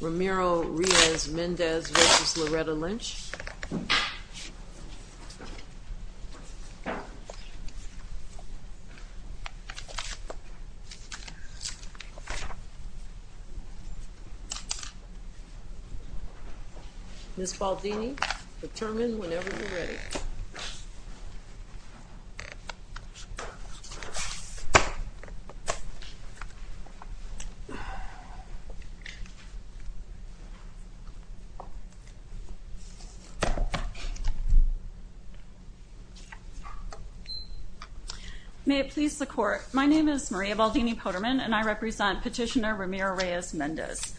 Ramiro Reyes-Mendez v. Loretta E. Lynch Ms. Baldini, determine whenever you're ready. May it please the Court, my name is Maria Baldini Poterman and I represent Petitioner Ramiro Reyes-Mendez.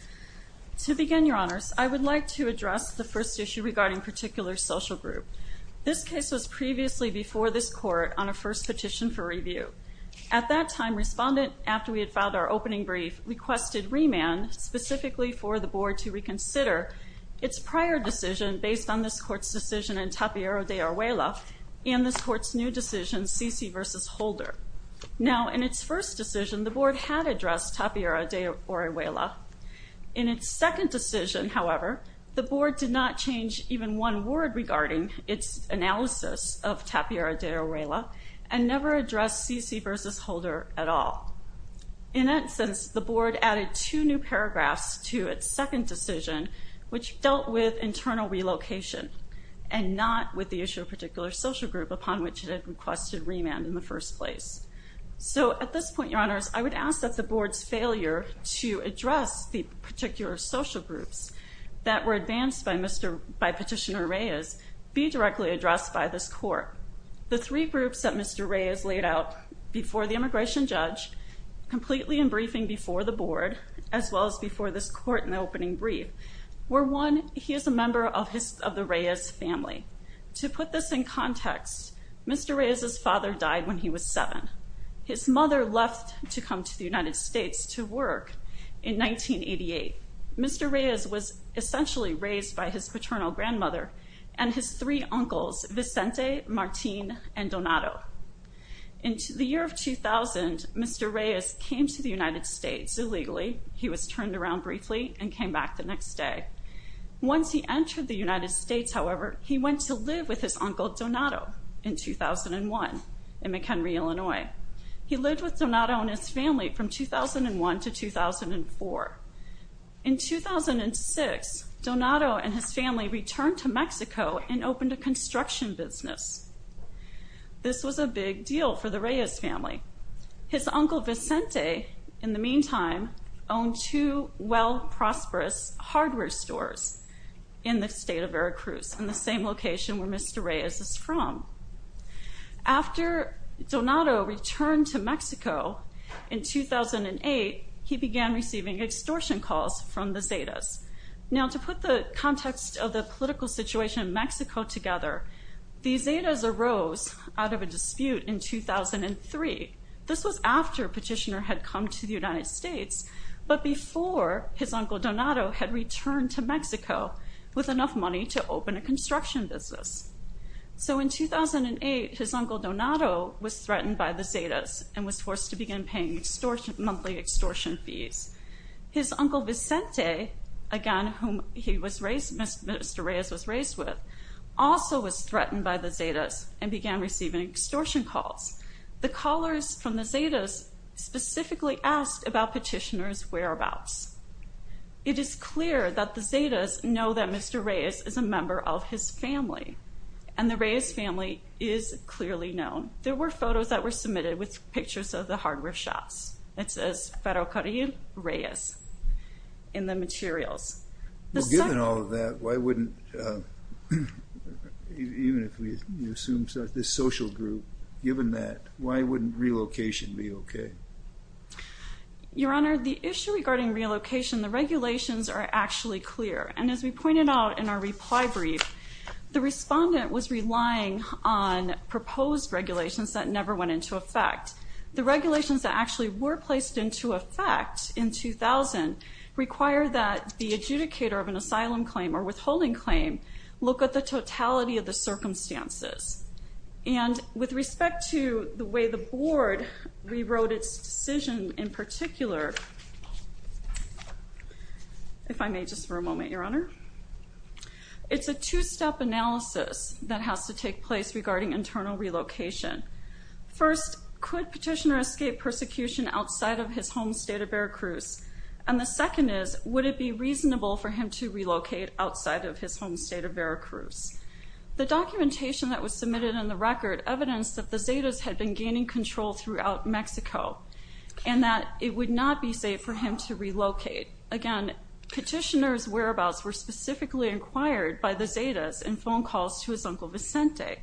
To begin, Your Honors, I would like to address the first issue regarding particular social group. This case was previously before this Court on a first petition for review. At that time, Respondent, after we had filed our opening brief, requested remand specifically for the Board to reconsider its prior decision based on this Court's decision in Tapiera de Orejuela and this Court's new decision, Cici v. Holder. Now, in its first decision, the Board had addressed Tapiera de Orejuela. In its second decision, however, the Board did not change even one word regarding its analysis of Tapiera de Orejuela and never addressed Cici v. Holder at all. In that sense, the Board added two new paragraphs to its second decision which dealt with internal relocation and not with the issue of particular social group upon which it had requested remand in the first place. So, at this point, Your Honors, I would ask that the Board's failure to address the particular social groups that were advanced by Petitioner Reyes be directly addressed by this Court. The three groups that Mr. Reyes laid out before the immigration judge, completely in briefing before the Board, as well as before this Court in the opening brief, were one, he is a member of the Reyes family. To put this in context, Mr. Reyes' father died when he was seven. His mother left to come to the United States to work in 1988. Mr. Reyes was essentially raised by his paternal grandmother and his three uncles, Vicente, Martin, and Donato. In the year of 2000, Mr. Reyes came to the United States illegally. He was turned around briefly and came back the next day. Once he entered the United States, however, he went to live with his uncle Donato in 2001 in McHenry, Illinois. He lived with Donato and his family from 2001 to 2004. In 2006, Donato and his family returned to Mexico and opened a construction business. This was a big deal for the Reyes family. His uncle Vicente, in the meantime, owned two well-prosperous hardware stores in the state of Veracruz, in the same location where Mr. Reyes is from. After Donato returned to Mexico in 2008, he began receiving extortion calls from the Zetas. Now, to put the context of the political situation in Mexico together, the Zetas arose out of a dispute in 2003. This was after Petitioner had come to the United States, but before his uncle Donato had returned to Mexico with enough money to open a construction business. So in 2008, his uncle Donato was threatened by the Zetas and was forced to begin paying monthly extortion fees. His uncle Vicente, again, whom Mr. Reyes was raised with, also was threatened by the Zetas and began receiving extortion calls. The callers from the Zetas specifically asked about Petitioner's whereabouts. It is clear that the Zetas know that Mr. Reyes is a member of his family, and the Reyes family is clearly known. There were photos that were submitted with pictures of the hardware shops. It says, Ferrocarril Reyes in the materials. Given all of that, why wouldn't, even if we assume this social group, given that, why wouldn't relocation be okay? Your Honor, the issue regarding relocation, the regulations are actually clear. And as we pointed out in our reply brief, the respondent was relying on proposed regulations that never went into effect. The regulations that actually were placed into effect in 2000 require that the adjudicator of an asylum claim or withholding claim look at the totality of the circumstances. And with respect to the way the board rewrote its decision in particular, if I may, just for a moment, Your Honor, it's a two-step analysis that has to take place regarding internal relocation. First, could Petitioner escape persecution outside of his home state of Veracruz? And the second is, would it be reasonable for him to relocate outside of his home state of Veracruz? The documentation that was submitted in the record evidenced that the Zetas had been gaining control throughout Mexico and that it would not be safe for him to relocate. Again, Petitioner's whereabouts were specifically inquired by the Zetas in phone calls to his Uncle Vicente.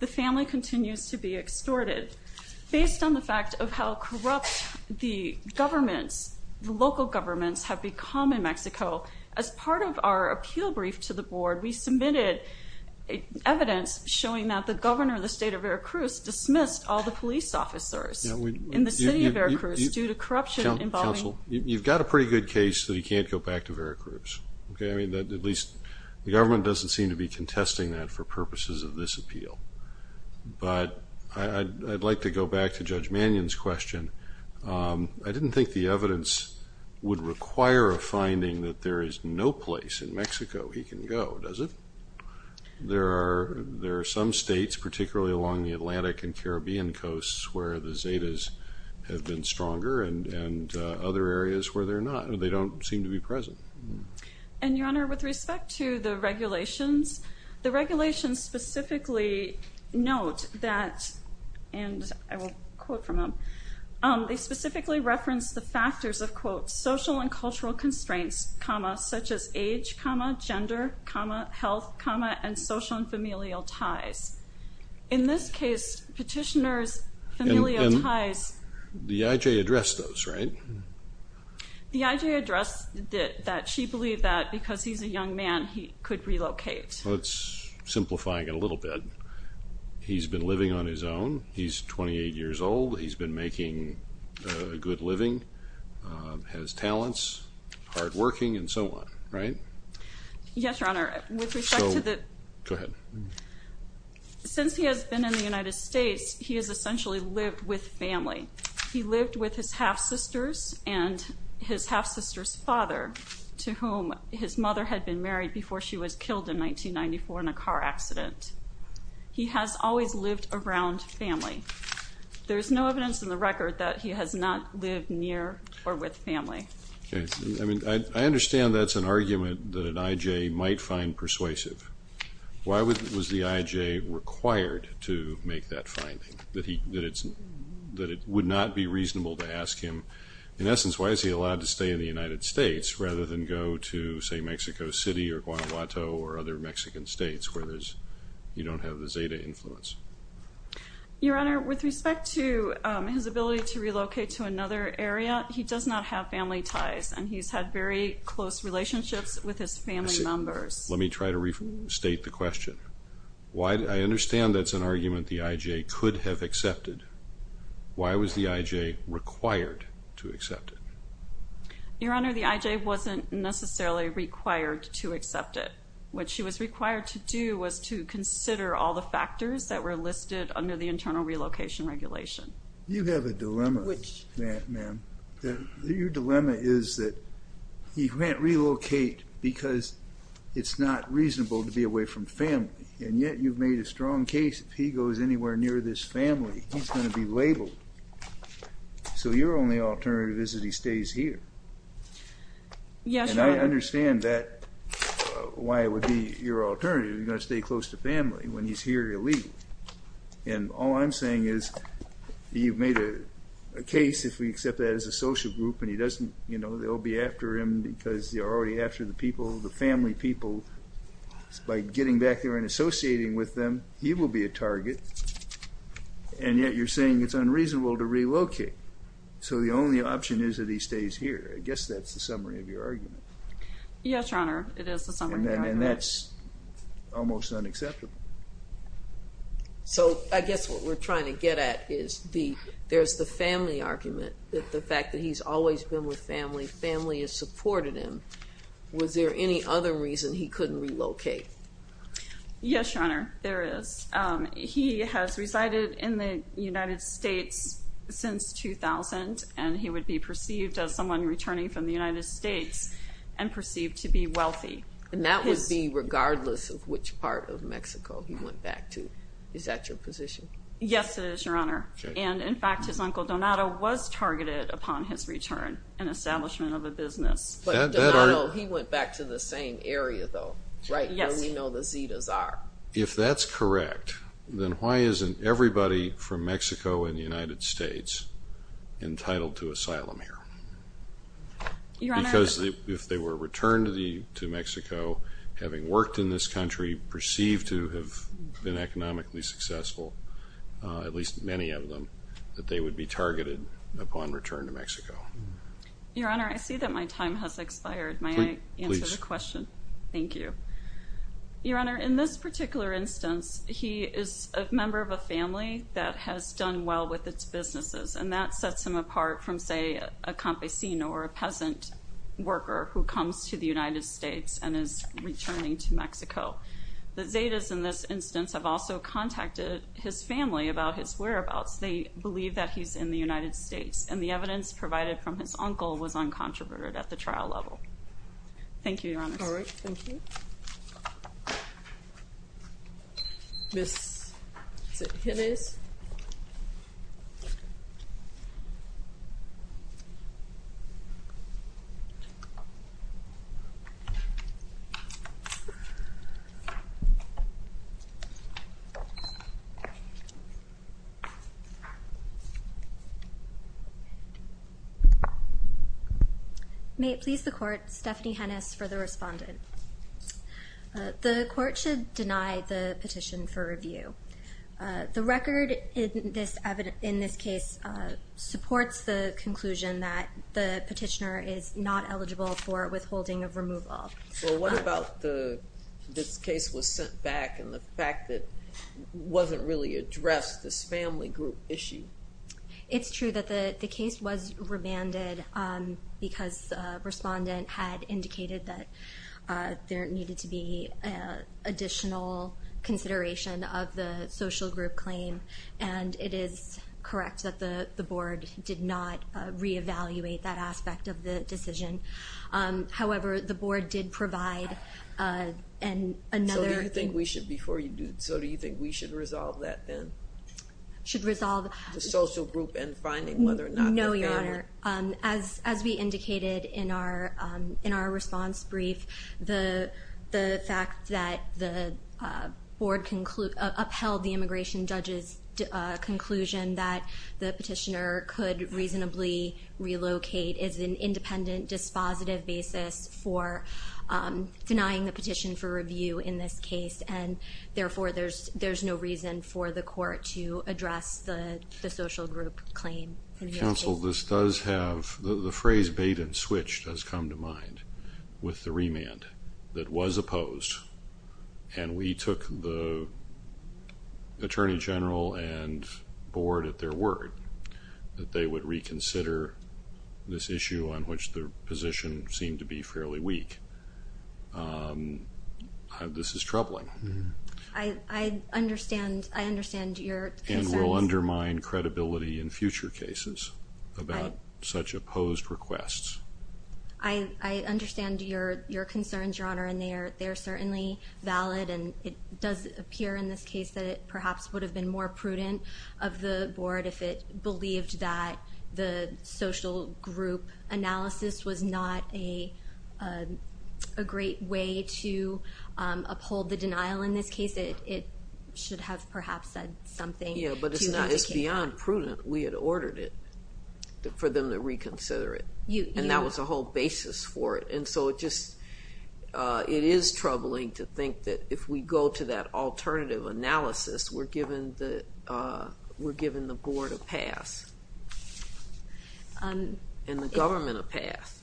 The family continues to be extorted. Based on the fact of how corrupt the governments, the local governments, have become in Mexico, as part of our appeal brief to the board, we submitted evidence showing that the governor of the state of Veracruz dismissed all the police officers in the city of Veracruz due to corruption involving... Counsel, you've got a pretty good case that he can't go back to Veracruz. At least the government doesn't seem to be contesting that for purposes of this appeal. But I'd like to go back to Judge Mannion's question. I didn't think the evidence would require a finding that there is no place in Mexico he can go, does it? There are some states, particularly along the Atlantic and Caribbean coasts, where the Zetas have been stronger and other areas where they're not. They don't seem to be present. And, Your Honor, with respect to the regulations, the regulations specifically note that, and I will quote from them, they specifically reference the factors of, quote, social and cultural constraints, comma, such as age, comma, gender, comma, health, comma, and social and familial ties. In this case, petitioners' familial ties... And the I.J. addressed those, right? The I.J. addressed that she believed that because he's a young man, he could relocate. Well, it's simplifying it a little bit. He's been living on his own. He's 28 years old. He's been making a good living, has talents, hardworking, and so on, right? Yes, Your Honor. With respect to the... So, go ahead. Since he has been in the United States, he has essentially lived with family. He lived with his half-sisters and his half-sister's father, to whom his mother had been married before she was killed in 1994 in a car accident. He has always lived around family. There's no evidence in the record that he has not lived near or with family. Okay. I mean, I understand that's an argument that an I.J. might find persuasive. Why was the I.J. required to make that finding, that it would not be reasonable to ask him, in essence, why is he allowed to stay in the United States rather than go to, say, Mexico City or Guanajuato or other Mexican states where you don't have the Zeta influence? Your Honor, with respect to his ability to relocate to another area, he does not have family ties, and he's had very close relationships with his family members. Let me try to restate the question. I understand that's an argument the I.J. could have accepted. Why was the I.J. required to accept it? Your Honor, the I.J. wasn't necessarily required to accept it. What she was required to do was to consider all the factors that were listed under the Internal Relocation Regulation. You have a dilemma, ma'am. Your dilemma is that he can't relocate because it's not reasonable to be away from family, and yet you've made a strong case if he goes anywhere near this family, he's going to be labeled. So your only alternative is that he stays here. Yes, Your Honor. And I understand that, why it would be your alternative. You're going to stay close to family. When he's here, you'll leave. And all I'm saying is you've made a case, if we accept that as a social group, and he doesn't, you know, they'll be after him because they're already after the people, the family people, by getting back there and associating with them, he will be a target, and yet you're saying it's unreasonable to relocate. So the only option is that he stays here. I guess that's the summary of your argument. Yes, Your Honor, it is the summary of my argument. And that's almost unacceptable. So I guess what we're trying to get at is there's the family argument, the fact that he's always been with family, family has supported him. Was there any other reason he couldn't relocate? Yes, Your Honor, there is. He has resided in the United States since 2000, and he would be perceived as someone returning from the United States and perceived to be wealthy. And that would be regardless of which part of Mexico he went back to. Is that your position? Yes, it is, Your Honor. And, in fact, his uncle Donato was targeted upon his return and establishment of a business. But Donato, he went back to the same area, though, right where we know the Zetas are. If that's correct, then why isn't everybody from Mexico and the United States entitled to asylum here? Because if they were returned to Mexico, having worked in this country, perceived to have been economically successful, at least many of them, Your Honor, I see that my time has expired. May I answer the question? Please. Thank you. Your Honor, in this particular instance, he is a member of a family that has done well with its businesses, and that sets him apart from, say, a campesino or a peasant worker who comes to the United States and is returning to Mexico. The Zetas, in this instance, have also contacted his family about his whereabouts. They believe that he's in the United States, and the evidence provided from his uncle was uncontroverted at the trial level. Thank you, Your Honor. All right. Thank you. Ms. Jimenez. May it please the Court, Stephanie Hennis for the respondent. The Court should deny the petition for review. The record in this case supports the conclusion that the petitioner is not eligible for withholding of removal. Well, what about this case was sent back and the fact that it wasn't really addressed, this family group issue? It's true that the case was remanded because the respondent had indicated that there needed to be additional consideration of the social group claim, and it is correct that the Board did not reevaluate that aspect of the decision. However, the Board did provide another- So do you think we should, before you do, so do you think we should resolve that then? Should resolve- The social group and finding whether or not the family- No, Your Honor. As we indicated in our response brief, the fact that the Board upheld the immigration judge's conclusion that the petitioner could reasonably relocate is an independent, dispositive basis for denying the petition for review in this case, and therefore there's no reason for the Court to address the social group claim in this case. Counsel, this does have- the phrase bait and switch does come to mind with the remand that was opposed, and we took the Attorney General and Board at their word that they would reconsider this issue on which the position seemed to be fairly weak. This is troubling. I understand your concerns. And will undermine credibility in future cases about such opposed requests. I understand your concerns, Your Honor, and they are certainly valid, and it does appear in this case that it perhaps would have been more prudent of the Board if it believed that the social group analysis was not a great way to uphold the denial in this case. It should have perhaps said something to indicate- Yeah, but it's beyond prudent. We had ordered it for them to reconsider it, and that was the whole basis for it. And so it just- it is troubling to think that if we go to that alternative analysis, we're giving the Board a pass and the government a pass.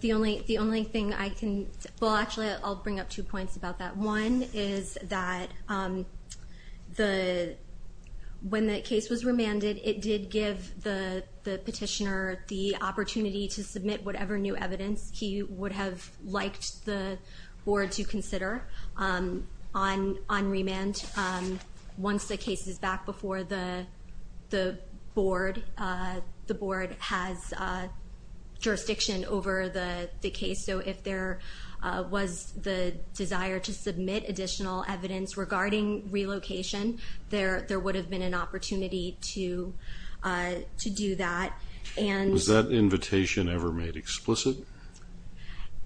The only thing I can- well, actually, I'll bring up two points about that. One is that when the case was remanded, it did give the petitioner the opportunity to submit whatever new evidence he would have liked the Board to consider on remand once the case is back before the Board has jurisdiction over the case. So if there was the desire to submit additional evidence regarding relocation, there would have been an opportunity to do that. Was that invitation ever made explicit?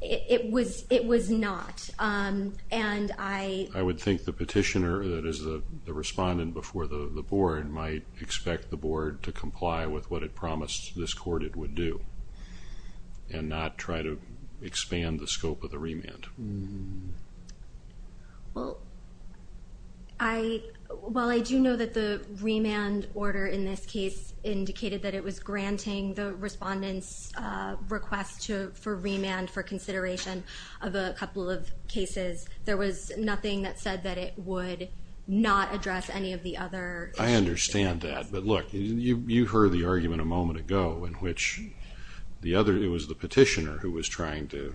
It was not, and I- I would think the petitioner, that is, the respondent before the Board, might expect the Board to comply with what it promised this court it would do and not try to expand the scope of the remand. Well, I- while I do know that the remand order in this case indicated that it was granting the respondent's request for remand for consideration of a couple of cases, there was nothing that said that it would not address any of the other issues. I understand that. But look, you heard the argument a moment ago in which the other- it was the petitioner who was trying to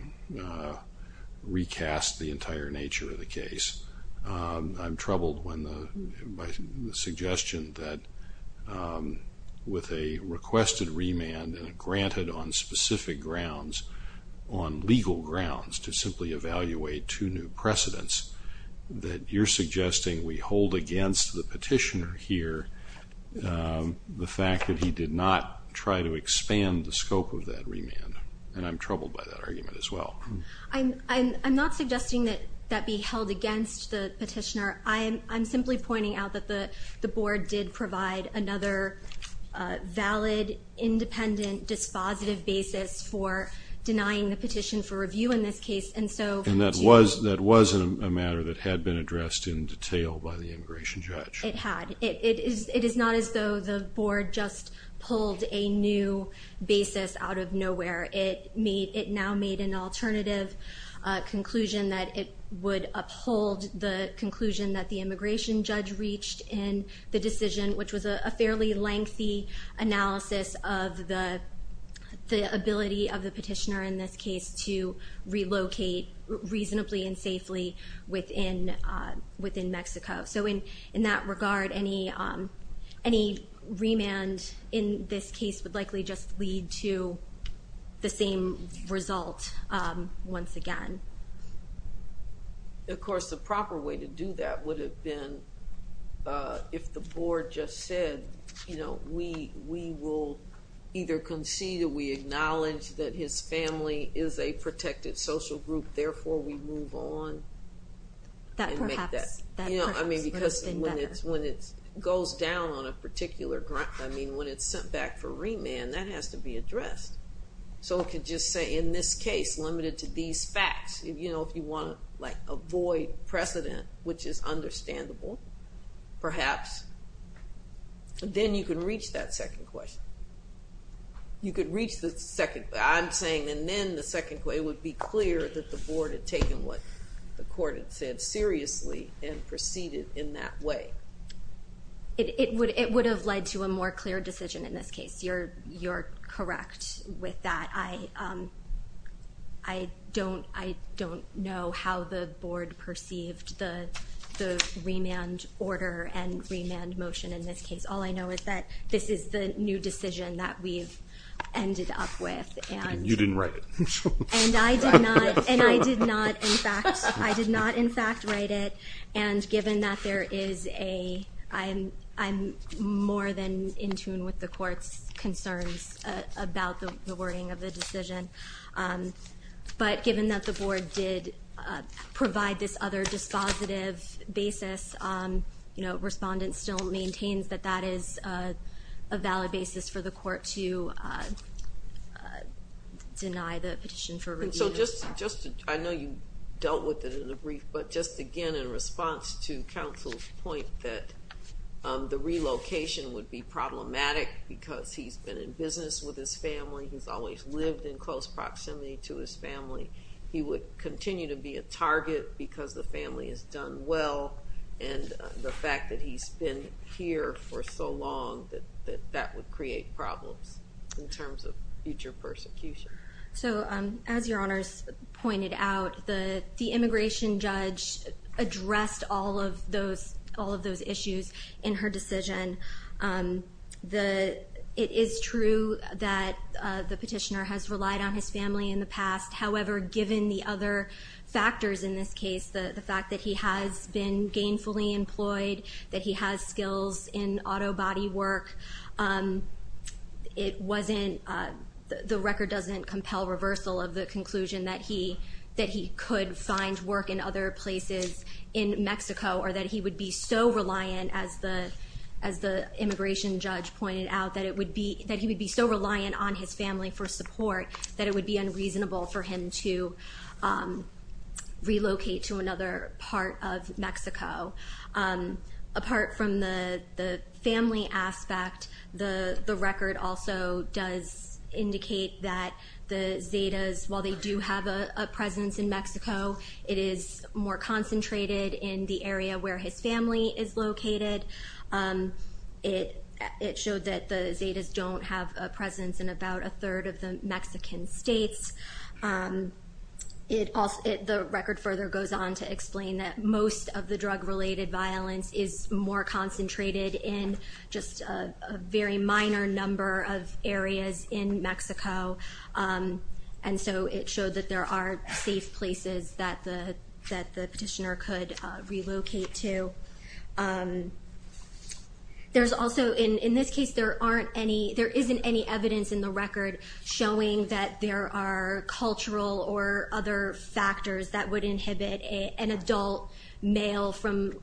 recast the entire nature of the case. I'm troubled when the- by the suggestion that with a requested remand and a granted on specific grounds, on legal grounds to simply evaluate two new precedents, that you're suggesting we hold against the petitioner here the fact that he did not try to expand the scope of that remand. And I'm troubled by that argument as well. I'm not suggesting that that be held against the petitioner. I'm simply pointing out that the Board did provide another valid, independent, dispositive basis for denying the petition for review in this case. And so- And that was a matter that had been addressed in detail by the immigration judge. It had. It is not as though the Board just pulled a new basis out of nowhere. It now made an alternative conclusion that it would uphold the conclusion that the immigration judge reached in the decision, which was a fairly lengthy analysis of the ability of the petitioner in this case to relocate reasonably and safely within Mexico. So in that regard, any remand in this case would likely just lead to the same result once again. Of course, the proper way to do that would have been if the Board just said, you know, we will either concede or we acknowledge that his family is a protected social group, therefore we move on. That perhaps- You know, I mean, because when it goes down on a particular ground, I mean, when it's sent back for remand, that has to be addressed. So it could just say, in this case, limited to these facts. You know, if you want to, like, avoid precedent, which is understandable, perhaps, then you can reach that second question. You could reach the second- I'm saying then the second question would be clear that the Board had taken what the court had said seriously and proceeded in that way. It would have led to a more clear decision in this case. You're correct with that. I don't know how the Board perceived the remand order and remand motion in this case. All I know is that this is the new decision that we've ended up with. And you didn't write it. And I did not. And I did not, in fact, write it. And given that there is a-I'm more than in tune with the court's concerns about the wording of the decision. But given that the Board did provide this other dispositive basis, you know, the correspondent still maintains that that is a valid basis for the court to deny the petition for review. And so just to-I know you dealt with it in the brief. But just, again, in response to counsel's point that the relocation would be problematic because he's been in business with his family, he's always lived in close proximity to his family, he would continue to be a target because the family has done well. And the fact that he's been here for so long, that that would create problems in terms of future persecution. So as Your Honors pointed out, the immigration judge addressed all of those issues in her decision. The-it is true that the petitioner has relied on his family in the past. However, given the other factors in this case, the fact that he has been gainfully employed, that he has skills in auto body work, it wasn't-the record doesn't compel reversal of the conclusion that he could find work in other places in Mexico or that he would be so reliant, as the immigration judge pointed out, that it would be-that he would be so reliant on his family for support that it would be unreasonable for him to relocate to another part of Mexico. Apart from the family aspect, the record also does indicate that the Zetas, while they do have a presence in Mexico, it is more concentrated in the area where his family is located. It showed that the Zetas don't have a presence in about a third of the Mexican states. It also-the record further goes on to explain that most of the drug-related violence is more concentrated in just a very minor number of areas in Mexico, and so it showed that there are safe places that the petitioner could relocate to. There's also-in this case, there aren't any-there isn't any evidence in the record showing that there are cultural or other factors that would inhibit an adult male from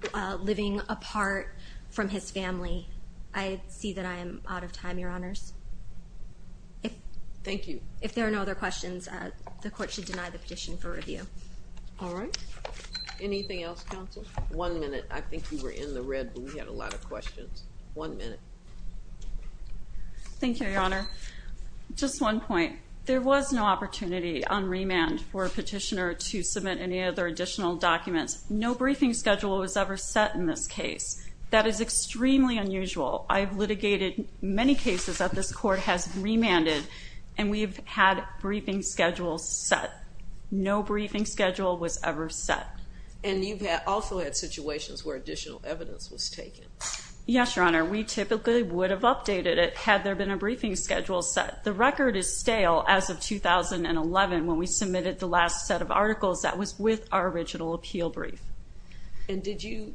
living apart from his family. I see that I am out of time, Your Honors. If- Thank you. If there are no other questions, the Court should deny the petition for review. All right. Anything else, Counsel? One minute. I think you were in the red, but we had a lot of questions. One minute. Thank you, Your Honor. Just one point. There was no opportunity on remand for a petitioner to submit any other additional documents. No briefing schedule was ever set in this case. That is extremely unusual. I've litigated many cases that this Court has remanded, and we've had briefing schedules set. No briefing schedule was ever set. And you've also had situations where additional evidence was taken. Yes, Your Honor. We typically would have updated it had there been a briefing schedule set. The record is stale as of 2011 when we submitted the last set of articles that was with our original appeal brief. And did you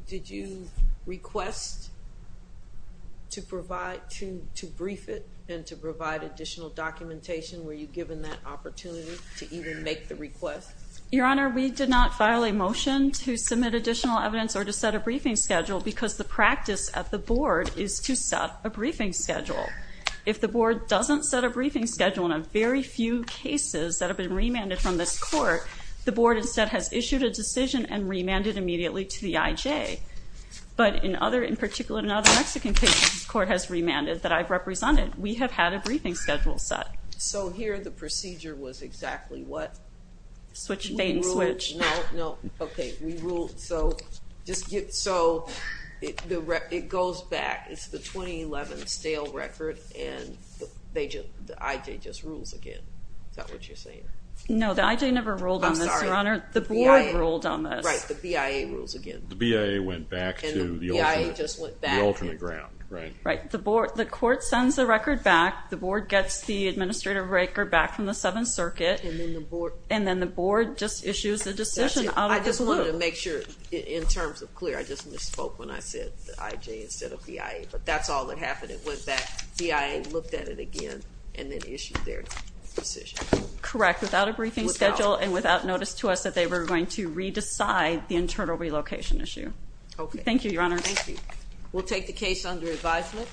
request to provide-to brief it and to provide additional documentation? Were you given that opportunity to even make the request? Your Honor, we did not file a motion to submit additional evidence or to set a briefing schedule because the practice at the Board is to set a briefing schedule. If the Board doesn't set a briefing schedule in a very few cases that have been remanded from this Court, the Board instead has issued a decision and remanded immediately to the IJ. But in other, in particular, in other Mexican cases, this Court has remanded that I've represented. We have had a briefing schedule set. So here the procedure was exactly what? Switched bait and switch. No, no. Okay. So it goes back. It's the 2011 stale record, and the IJ just rules again. Is that what you're saying? No, the IJ never ruled on this, Your Honor. I'm sorry. The Board ruled on this. Right. The BIA rules again. The BIA went back to the alternate ground. Right. The Court sends the record back. The Board gets the administrative record back from the Seventh Circuit. And then the Board just issues a decision out of the blue. I just wanted to make sure in terms of clear. I just misspoke when I said the IJ instead of BIA. But that's all that happened. It went back. BIA looked at it again and then issued their decision. Correct, without a briefing schedule and without notice to us that they were going to re-decide the internal relocation issue. Okay. Thank you, Your Honor. Thank you. We'll take the case under advisement.